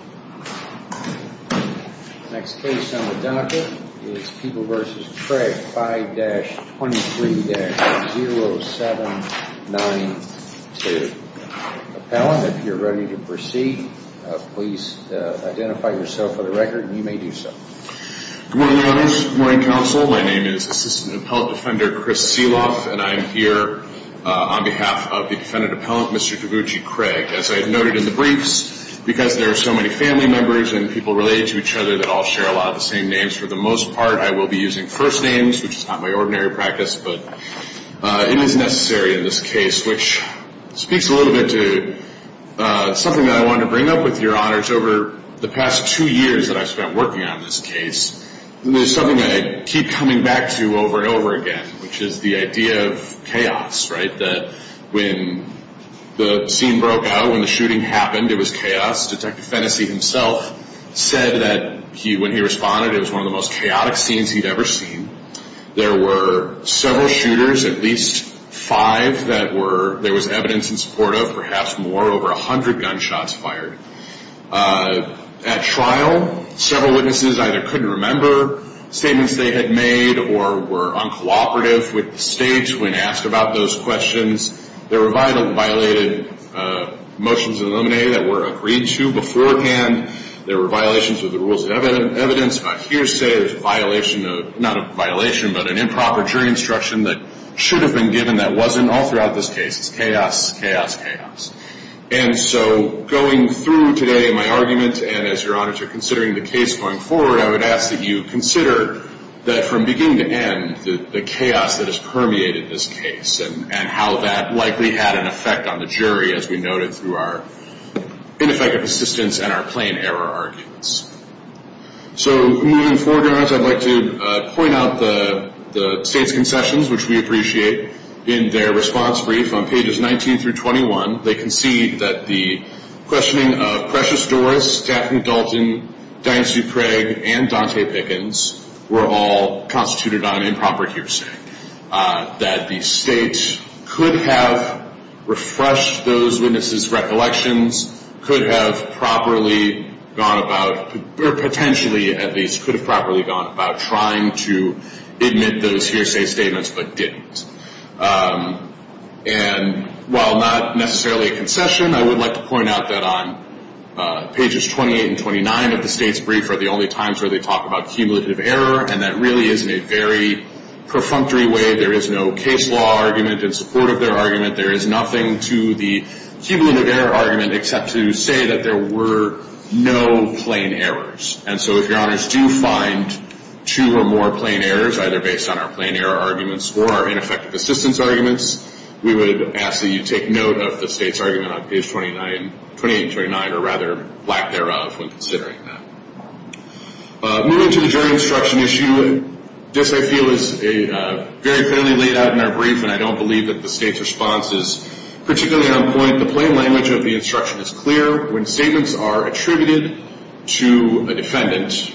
5-23-0792. Appellant, if you're ready to proceed, please identify yourself for the record. You may do so. Good morning, others. Good morning, counsel. My name is Assistant Appellant Defender Chris Seeloff, and I am here on behalf of the Defendant Appellant, Mr. Taguchi Craig. As I noted in the briefs, because there are so many family members and people related to each other that all share a lot of the same names, for the most part, I will be using first names, which is not my ordinary practice, but it is necessary in this case, which speaks a little bit to something that I wanted to bring up with your honors. Over the past two years that I've spent working on this case, there's something that I keep coming back to over and over again, which is the idea of chaos, right? That when the scene broke out, when the shooting happened, it was chaos. Detective Fennessy himself said that when he responded, it was one of the most chaotic scenes he'd ever seen. There were several shooters, at least five, that there was evidence in support of, perhaps more, over 100 gunshots fired. At trial, several witnesses either couldn't remember statements they had made or were uncooperative with the state when asked about those questions. There were violated motions of the nominee that were agreed to beforehand. There were violations of the rules of evidence. I hear say there's a violation of, not a violation, but an improper jury instruction that should have been given that wasn't. All throughout this case, it's chaos, chaos, chaos. And so going through today in my argument, and as your honors are considering the case going forward, I would ask that you consider that from beginning to end, the chaos that has permeated this case and how that likely had an effect on the jury, as we noted through our ineffective assistance and our plain error arguments. So moving forward, I'd like to point out the state's concessions, which we appreciate. In their response brief on pages 19 through 21, they concede that the questioning of Precious Doris, Daphne Dalton, Diane Supregg, and Dante Pickens were all constituted on improper hearsay. That the state could have refreshed those witnesses' recollections, could have properly gone about, or potentially at least could have properly gone about trying to admit those hearsay statements but didn't. And while not necessarily a concession, I would like to point out that on pages 28 and 29 of the state's brief are the only times where they talk about cumulative error, and that really is in a very perfunctory way. There is no case law argument in support of their argument. There is nothing to the cumulative error argument except to say that there were no plain errors. And so if your honors do find two or more plain errors, either based on our plain error arguments or our ineffective assistance arguments, we would ask that you take note of the state's argument on page 28 and 29, or rather lack thereof when considering that. Moving to the jury instruction issue, this I feel is very clearly laid out in our brief, and I don't believe that the state's response is particularly on point. The plain errors are attributed to a defendant.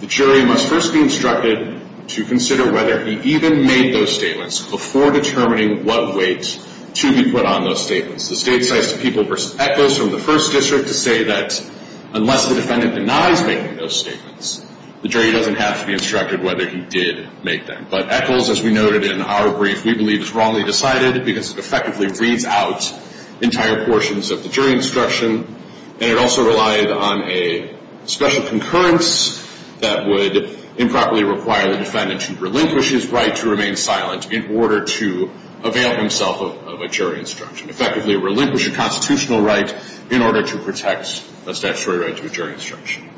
The jury must first be instructed to consider whether he even made those statements before determining what weight to be put on those statements. The state cites the people versus Echols from the first district to say that unless the defendant denies making those statements, the jury doesn't have to be instructed whether he did make them. But Echols, as we noted in our brief, we believe is wrongly decided because it effectively reads out entire portions of the jury instruction, and it also relied on a special concurrence that would improperly require the defendant to relinquish his right to remain silent in order to avail himself of a jury instruction, effectively relinquish a constitutional right in order to protect a statutory right to a jury instruction.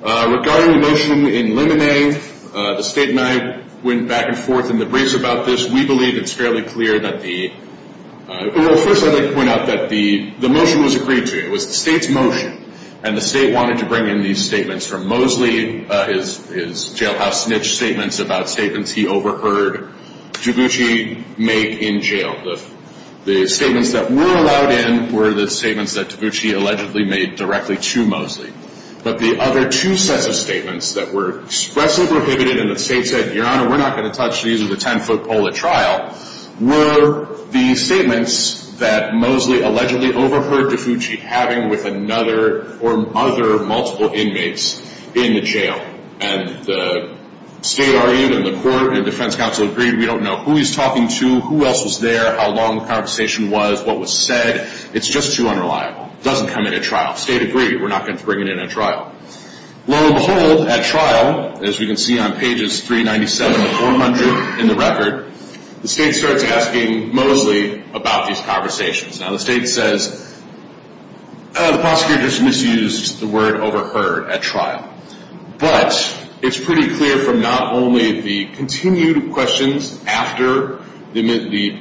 Regarding the motion in Limine, the state and I went back and forth in the briefs about this. We believe it's fairly clear that the, well, first I'd like to point out that the motion was agreed to. It was the state's motion, and the state wanted to bring in these statements from Mosley, his jailhouse snitch statements about statements he overheard DiGucci make in jail. The statements that were allowed in were the statements that DiGucci allegedly made directly to Mosley. But the other two sets of statements that were expressly prohibited and the state said, Your Honor, we're not going to bring it in at trial. Low and behold, at trial, as we can see on pages 397 to 400 in the Revit record, the state starts asking Mosley about these conversations. Now the state says, the prosecutor just misused the word overheard at trial. But it's pretty clear from not only the continued questions after the,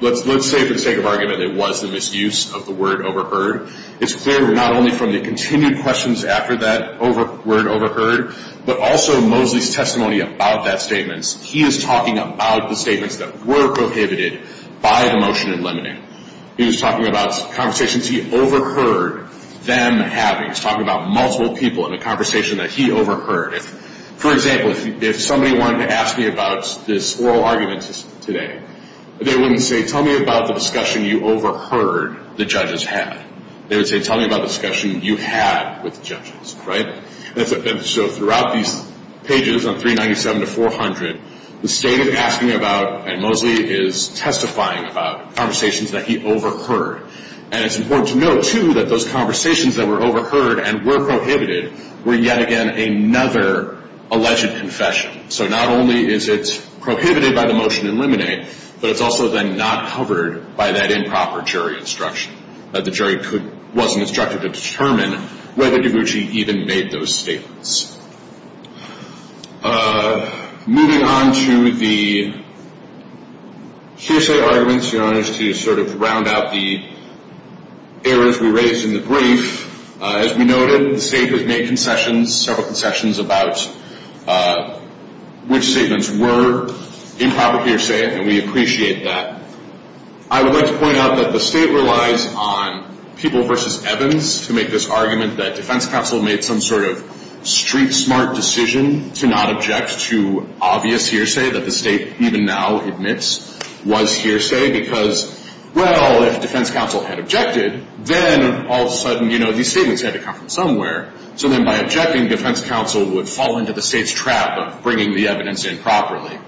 let's say for the sake of argument it was the misuse of the word overheard, it's clear not only from the continued questions after that word overheard, but also Mosley's testimony about that statement. He is talking about the statements that were prohibited by the motion in limine. He was talking about conversations he overheard them having. He was talking about multiple people in a conversation that he overheard. For example, if somebody wanted to ask me about this oral argument today, they wouldn't say tell me about the discussion you overheard the judges have. They would say tell me about the discussion you had with the judges, right? So throughout these pages on 397 to 400, the state is asking about and Mosley is testifying about conversations that he overheard. And it's important to note, too, that those conversations that were overheard and were prohibited were yet again another alleged confession. So not only is it prohibited by the motion in limine, but it's also then not covered by that improper jury instruction. That the jury wasn't instructed to determine whether DiGucci even made those statements. Moving on to the hearsay arguments, Your Honors, to sort of round out the errors we raised in the brief. As we noted, the state has made concessions, several concessions about which statements were improper hearsay, and we appreciate that. I would like to point out that the state relies on People v. Evans to make this argument that defense counsel made some sort of street smart decision to not object to obvious hearsay that the state even now admits was hearsay because, well, if defense counsel had objected, then all of a sudden, you know, these statements had to come from somewhere. So then by objecting, defense counsel would fall into the state's trap of bringing the evidence in properly.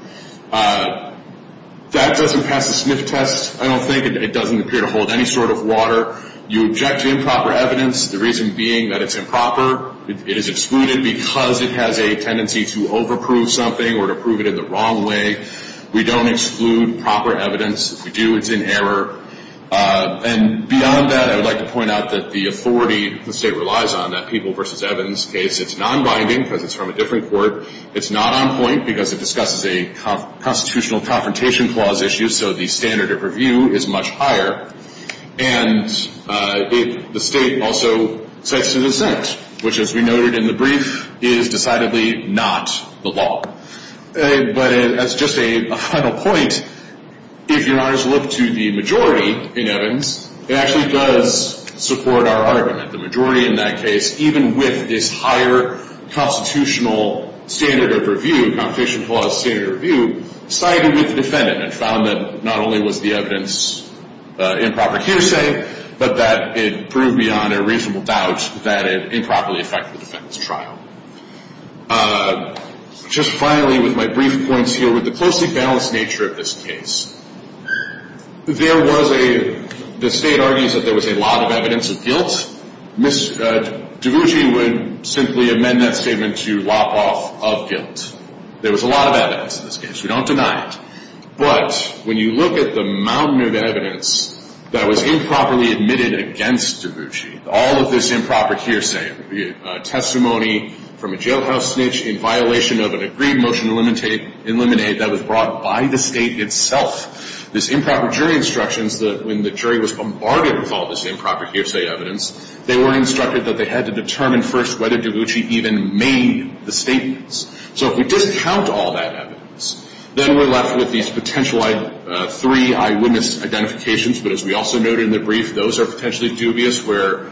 That doesn't pass the Smith test, I don't think. It doesn't appear to hold any sort of water. You object to improper evidence, the reason being that it's improper. It is excluded because it has a tendency to overprove something or to prove it in the wrong way. We don't exclude proper evidence. If we do, it's in error. And beyond that, I would like to point out that the authority the state relies on, that People v. Evans case, it's nonbinding because it's from a different court. It's not on point because it discusses a constitutional confrontation clause issue, so the standard of review is much higher. And the state also cites an assent, which, as we noted in the brief, is decidedly not the law. But as just a final point, if your honors look to the majority in Evans, it actually does support our argument. The majority in that case, even with this higher constitutional standard of review, confrontation clause standard of review, sided with the defendant and found that not only was the evidence improper cuse, but that it proved beyond a reasonable doubt that it improperly affected the defendant's trial. Just finally, with my brief points here, with the closely balanced nature of this case, there was a, the state argues that there was a lot of evidence of guilt. Ms. DeVucci would simply amend that statement to lop off of guilt. There was a lot of evidence in this case. We don't deny it. But when you look at the mountain of evidence that was improperly admitted against DeVucci, all of this improper hearsay, testimony from a jailhouse snitch in violation of an agreed motion to eliminate, that was brought by the state itself, this improper jury instructions that when the jury was bombarded with all this improper hearsay evidence, they were instructed that they had to determine first whether DeVucci even made the statements. So if we discount all that evidence, then we're left with these potential three eyewitness identifications. But as we also noted in the brief, those are potentially dubious where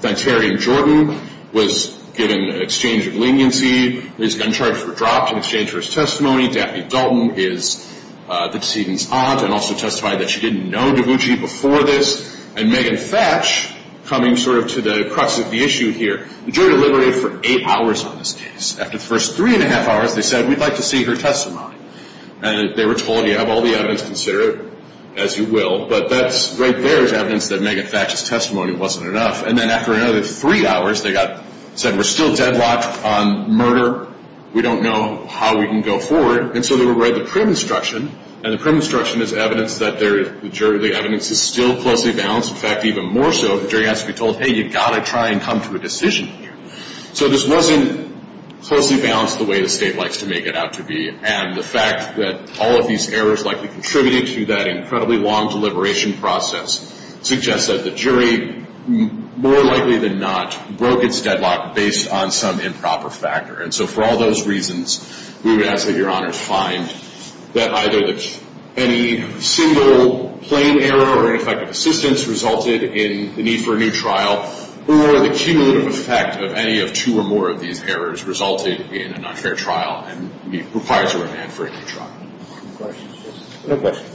Venterian Jordan was given an exchange of leniency. His gun charges were dropped in exchange for his testimony. Daphne Dalton is the decedent's aunt and also testified that she didn't know DeVucci before this. And Megan Thatch, coming sort of to the crux of the issue here, the jury deliberated for eight hours on this case. After the first three and a half hours, they said, we'd like to see her testimony. And they were told, you have all the evidence, consider it as you will. But that's right there is evidence that Megan Thatch's testimony wasn't enough. And then after another three hours, they got said, we're still deadlocked on murder. We don't know how we can go forward. And so they were read the print instruction. And the print instruction is evidence that the evidence is still closely balanced. In fact, even more so, the jury has to be told, hey, you've got to try and come to a decision here. So this wasn't closely balanced the way the state likes to make it out to be. And the fact that all of these errors likely contributed to that incredibly long deliberation process suggests that the jury more likely than not broke its deadlock based on some improper factor. And so for all those reasons, we would ask that Your Honors find that either any single plain error or ineffective assistance resulted in the need for a new trial, or the cumulative effect of any of two or more of these errors resulted in an unfair trial and requires a remand for a new trial. No questions.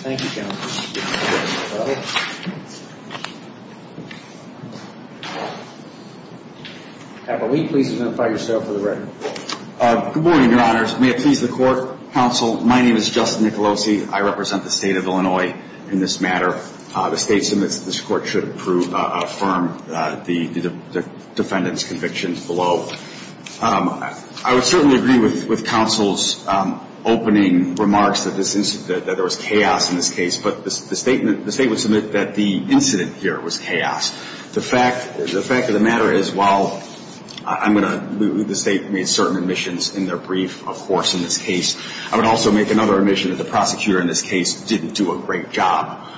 Thank you, gentlemen. Can we please identify yourself for the record? Good morning, Your Honors. May it please the Court, Counsel, my name is Justin Nicolosi. I represent the State of Illinois in this matter. The State submits that this Court should approve, affirm the defendant's convictions below. I would certainly agree with Counsel's opening remarks that there was chaos in this case. But the State would submit that the incident here was chaos. The fact of the matter is, while I'm going to – the State made certain omissions in their brief, of course, in this case. I would also make another omission that the prosecutor in this case didn't do a great job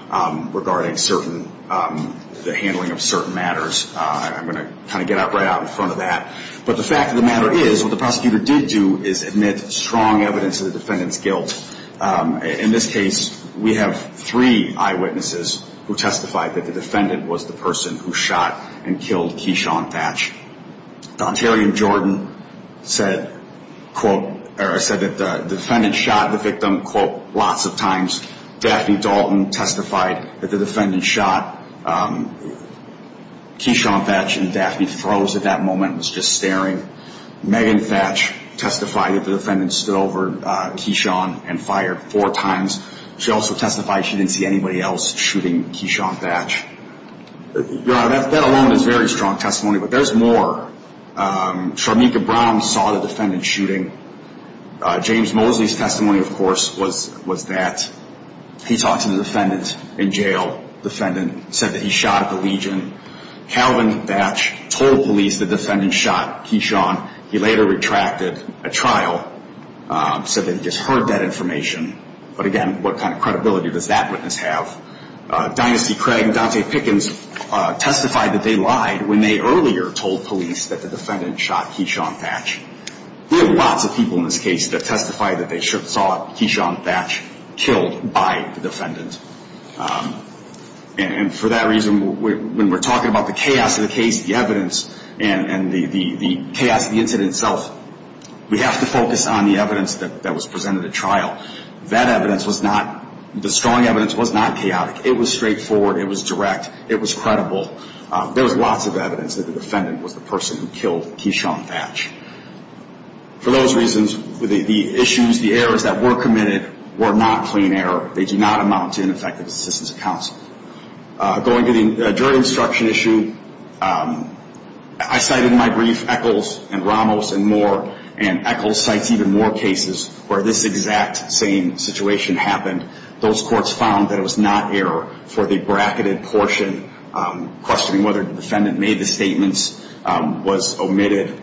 regarding certain – the handling of certain matters. I'm going to kind of get right out in front of that. But the fact of the matter is, what the prosecutor did do is admit strong evidence of the defendant's guilt. In this case, we have three eyewitnesses who testified that the defendant was the person who shot and killed Keyshawn Thatch. Don Terry of Jordan said, quote, or said that the defendant shot the victim, quote, lots of times. Daphne Dalton testified that the defendant shot Keyshawn Thatch and Daphne froze at that moment and was just staring. Megan Thatch testified that the defendant stood over Keyshawn and fired four times. She also testified she didn't see anybody else shooting Keyshawn Thatch. Your Honor, that alone is very strong testimony. But there's more. Sharmika Brown saw the defendant shooting. James Mosley's testimony, of course, was that he talked to the defendant in jail. Defendant said that he shot at the legion. Calvin Thatch told police the defendant shot Keyshawn. He later retracted a trial, said that he just heard that information. But again, what kind of credibility does that witness have? Dynasty Craig and Dante Pickens testified that they lied when they earlier told police that the defendant shot Keyshawn Thatch. We have lots of people in this case that testified that they saw Keyshawn Thatch killed by the defendant. And for that reason, when we're talking about the chaos of the case, the evidence, and the chaos of the incident itself, we have to focus on the evidence that was presented at trial. That evidence was not, the strong evidence was not chaotic. It was straightforward. It was direct. It was credible. There was lots of evidence that the defendant was the person who killed Keyshawn Thatch. For those reasons, the issues, the errors that were committed were not clean error. They do not amount to ineffective assistance of counsel. Going to the jury instruction issue, I cited in my brief Echols and Ramos and more, and Echols cites even more cases where this exact same situation happened. Those courts found that it was not error for the bracketed portion questioning whether the defendant made the statements was omitted.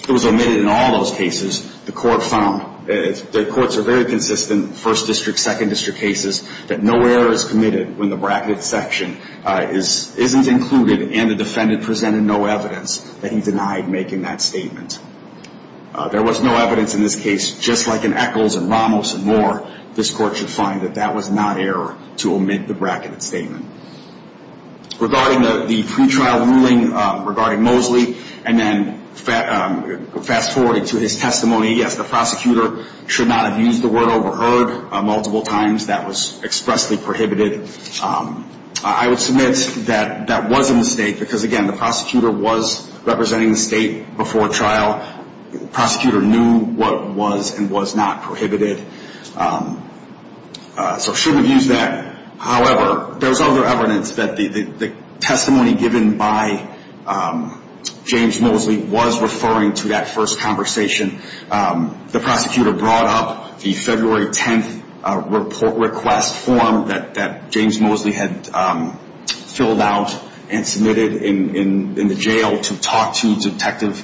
It was omitted in all those cases. The court found, the courts are very consistent, first district, second district cases, that no error is committed when the bracketed section isn't included and the defendant presented no evidence that he denied making that statement. There was no evidence in this case, just like in Echols and Ramos and more, this court should find that that was not error to omit the bracketed statement. Regarding the pretrial ruling regarding Mosley and then fast forwarding to his testimony, yes, the prosecutor should not have used the word overheard multiple times. That was expressly prohibited. I would submit that that was a mistake because, again, the prosecutor was representing the state before trial. The prosecutor knew what was and was not prohibited. So shouldn't have used that. However, there's other evidence that the testimony given by James Mosley was referring to that first conversation. The prosecutor brought up the February 10th request form that James Mosley had filled out and submitted in the jail to talk to Detective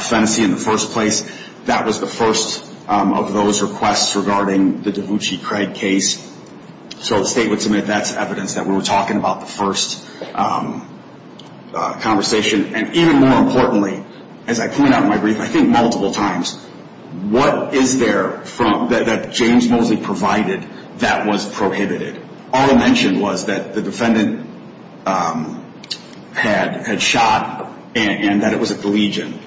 Fennessy in the first place. That was the first of those requests regarding the Davucci-Craig case. So the state would submit that's evidence that we were talking about the first conversation. And even more importantly, as I point out in my brief, I think multiple times, what is there that James Mosley provided that was prohibited? All I mentioned was that the defendant had shot and that it was at the legion.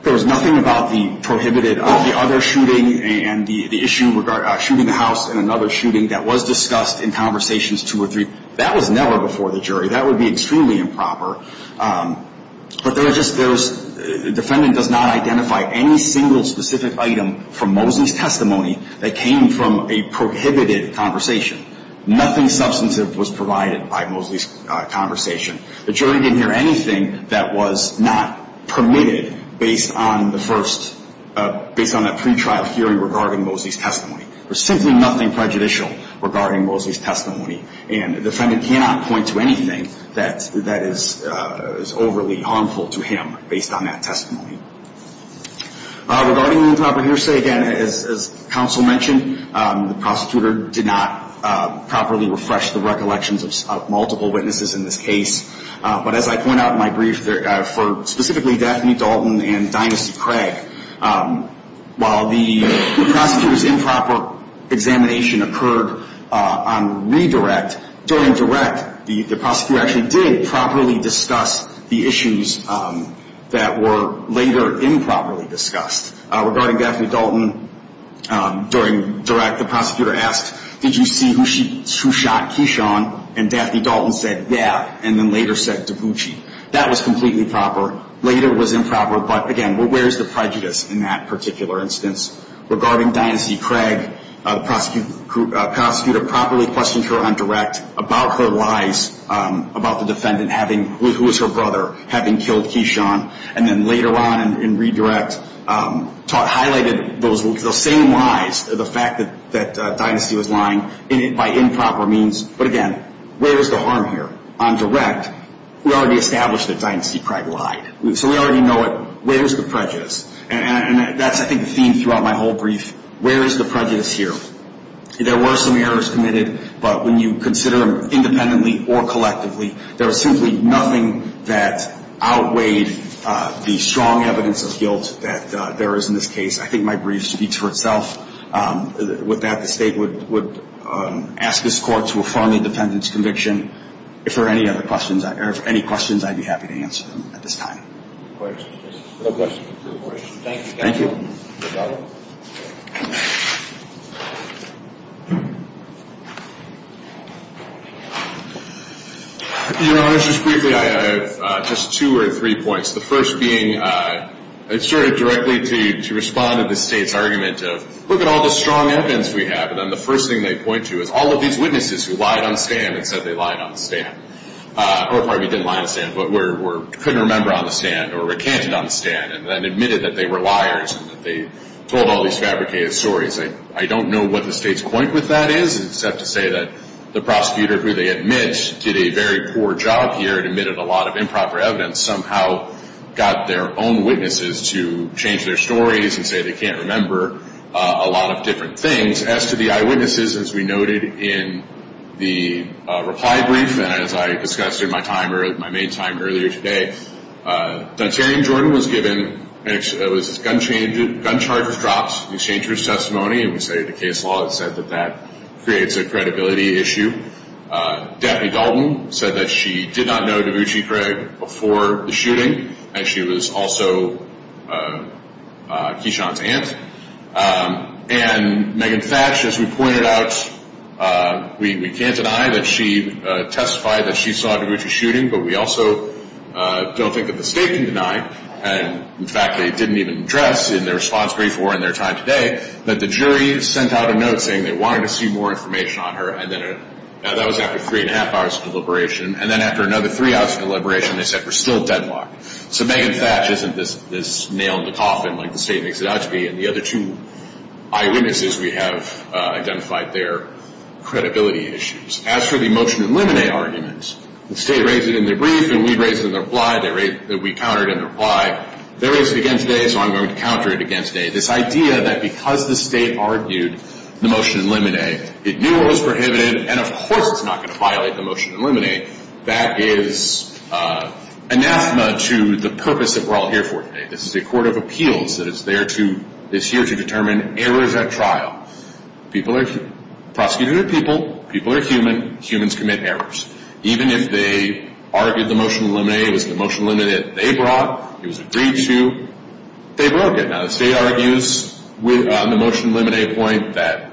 There was nothing about the prohibited of the other shooting and the issue regarding shooting the house in another shooting that was discussed in conversations two or three. That was never before the jury. That would be extremely improper. But there's just there's defendant does not identify any single specific item from Mosley's testimony that came from a prohibited conversation. Nothing substantive was provided by Mosley's conversation. The jury didn't hear anything that was not permitted based on the first, based on that pretrial hearing regarding Mosley's testimony. There's simply nothing prejudicial regarding Mosley's testimony. And the defendant cannot point to anything that is overly harmful to him based on that testimony. Regarding the improper hearsay, again, as counsel mentioned, the prosecutor did not properly refresh the recollections of multiple witnesses in this case. But as I point out in my brief for specifically Daphne Dalton and Dynasty Craig, while the prosecutor's improper examination occurred on redirect, during direct, the prosecutor actually did properly discuss the issues that were later improperly discussed. Regarding Daphne Dalton, during direct, the prosecutor asked, did you see who she, who shot Keyshawn? And Daphne Dalton said, yeah. And then later said Dabuchi. That was completely proper. Later was improper. But again, where's the prejudice in that particular instance? Regarding Dynasty Craig, the prosecutor properly questioned her on direct about her lies about the defendant having, who was her brother, having killed Keyshawn. And then later on in redirect highlighted those same lies, the fact that Dynasty was lying by improper means. But again, where's the harm here? On direct, we already established that Dynasty Craig lied. So we already know it. Where's the prejudice? And that's I think the theme throughout my whole brief. Where is the prejudice here? There were some errors committed, but when you consider them independently or collectively, there was simply nothing that outweighed the strong evidence of guilt that there is in this case. I think my brief speaks for itself. With that, the State would ask this Court to affirm the defendant's conviction. If there are any questions, I'd be happy to answer them at this time. Your Honor, just briefly, I have just two or three points. The first being, I started directly to respond to the State's argument of look at all the strong evidence we have. And then the first thing they point to is all of these witnesses who lied on the stand and said they lied on the stand. Or pardon me, didn't lie on the stand, but couldn't remember on the stand or recanted on the stand and then admitted that they were liars and that they told all these fabricated stories. I don't know what the State's point with that is, except to say that the prosecutor who they admit did a very poor job here and admitted a lot of improper evidence somehow got their own witnesses to change their stories and say they can't remember a lot of different things. As to the witnesses, as we noted in the reply brief and as I discussed in my main time earlier today, Dontarian Jordan was given gun charges dropped in exchange for his testimony and we say the case law has said that that creates a credibility issue. Daphne Dalton said that she did not know Davucci Craig before the shooting and she was also Kishon's aunt. And Megan Thatch, as we pointed out, we can't deny that she testified that she saw Davucci shooting, but we also don't think that the State can deny, and in fact they didn't even address in their response brief or in their time today, that the jury sent out a note saying they wanted to see more information on her and that was after three and a half hours of deliberation. And then after another three hours of deliberation they said we're still deadlocked. So Megan Thatch isn't this nail in the coffin like the State makes it out to be. And the other two eyewitnesses we have identified their credibility issues. As for the motion in limine argument, the State raised it in their brief and we raised it in their reply. We countered in their reply. They raised it again today so I'm going to counter it again today. This idea that because the State argued the motion in limine, it knew it was prohibited, and of course it's not going to violate the motion in limine, that is anathema to the purpose that we're all here for today. This is a court of appeals that is there to, is here to determine errors at trial. Prosecutors are people, people are human, humans commit errors. Even if they argued the motion in limine, it was the motion in limine that they brought, it was agreed to, they broke it. Now the State argues on the motion in limine point that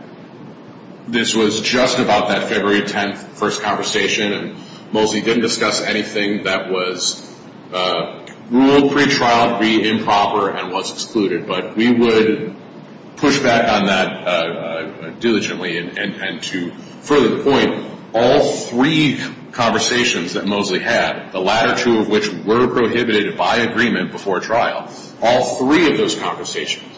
this was just about that February 10th first conversation and Mosley didn't discuss anything that was ruled pre-trial to be improper and was excluded. But we would push back on that diligently and to further the point, all three conversations that Mosley had, the latter two of which were prohibited by agreement before trial, all three of those conversations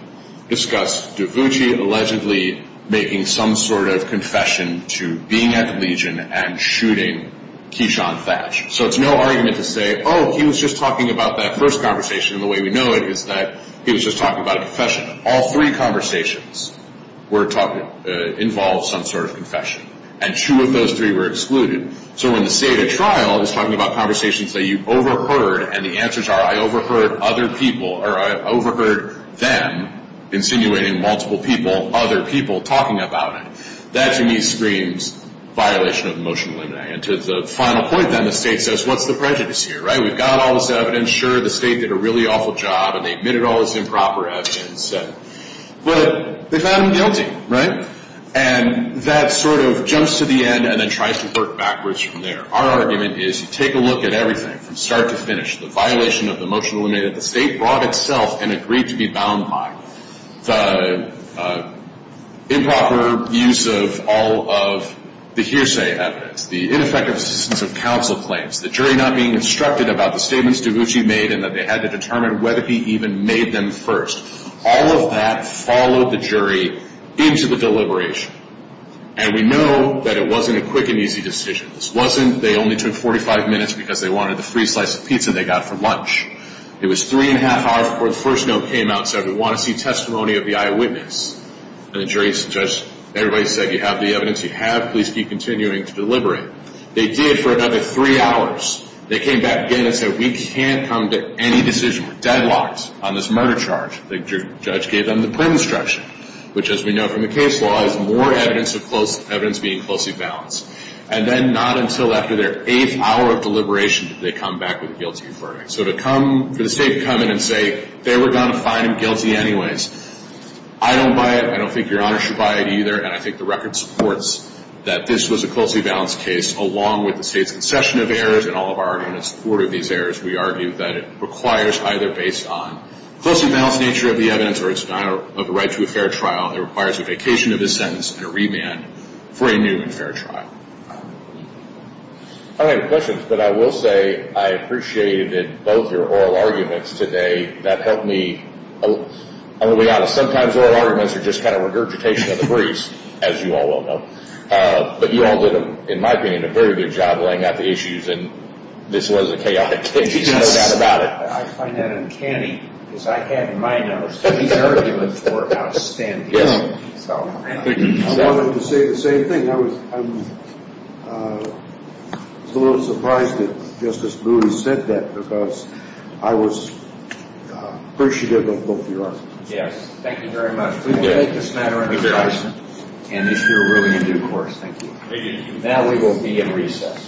discussed Davucci allegedly making some sort of confession to being at the Legion and shooting Keyshawn Thatch. So it's no argument to say, oh, he was just talking about that first conversation and the way we know it is that he was just talking about a confession. All three conversations were talking, involved some sort of confession. And two of those three were excluded. So when the State at trial is talking about conversations that you overheard and the answers are, I overheard other people, or I overheard them insinuating multiple people, other people talking about it, that to me screams violation of the motion in limine. And to the final point then, the State says, what's the prejudice here, right? We've got all this evidence, sure, the State did a really awful job and they admitted all this improper evidence, but they found him guilty, right? And that sort of jumps to the end and then tries to work backwards from there. Our argument is to take a look at everything from start to finish. The violation of the motion in limine that the State brought itself and agreed to be bound by. The improper use of all of the hearsay evidence, the ineffective assistance of counsel claims, the jury not being instructed about the statements DiGucci made and that they had to determine whether he even made them first. All of that followed the jury into the deliberation. And we know that it wasn't a quick and easy decision. This wasn't they only took 45 minutes because they wanted the free slice of pizza they got for lunch. It was three and a half hours before the first note came out and said, we want to see testimony of the eyewitness. And the jury said, everybody said, you have the evidence, you have, please keep continuing to deliberate. They did for another three hours. They came back again and said, we can't come to any decision, we're deadlocked on this murder charge. The judge gave them the print instruction, which as we know from the case law is more evidence being closely balanced. And then not until after their eighth hour of deliberation did they come back with a guilty verdict. So to come, for the State to come in and say, they were going to find him guilty anyways. I don't buy it. I don't think Your Honor should buy it either. And I think the record supports that this was a closely balanced case along with the State's concession of errors and all of our arguments in support of these errors. We argue that it requires either based on closely balanced nature of the evidence or its denial of the right to a fair trial. I don't have any questions, but I will say I appreciated both your oral arguments today. That helped me. I'll be honest, sometimes oral arguments are just kind of regurgitation of the briefs, as you all well know. But you all did, in my opinion, a very good job laying out the issues. And this was a chaotic case, no doubt about it. I find that uncanny, because I had in my mind that this was going to be a chaotic case. I wanted to say the same thing. I was a little surprised that Justice Moody said that, because I was appreciative of both of your arguments. Yes. Thank you very much. We will take this matter under consideration and issue a ruling in due course. Thank you. Now we will be in recess.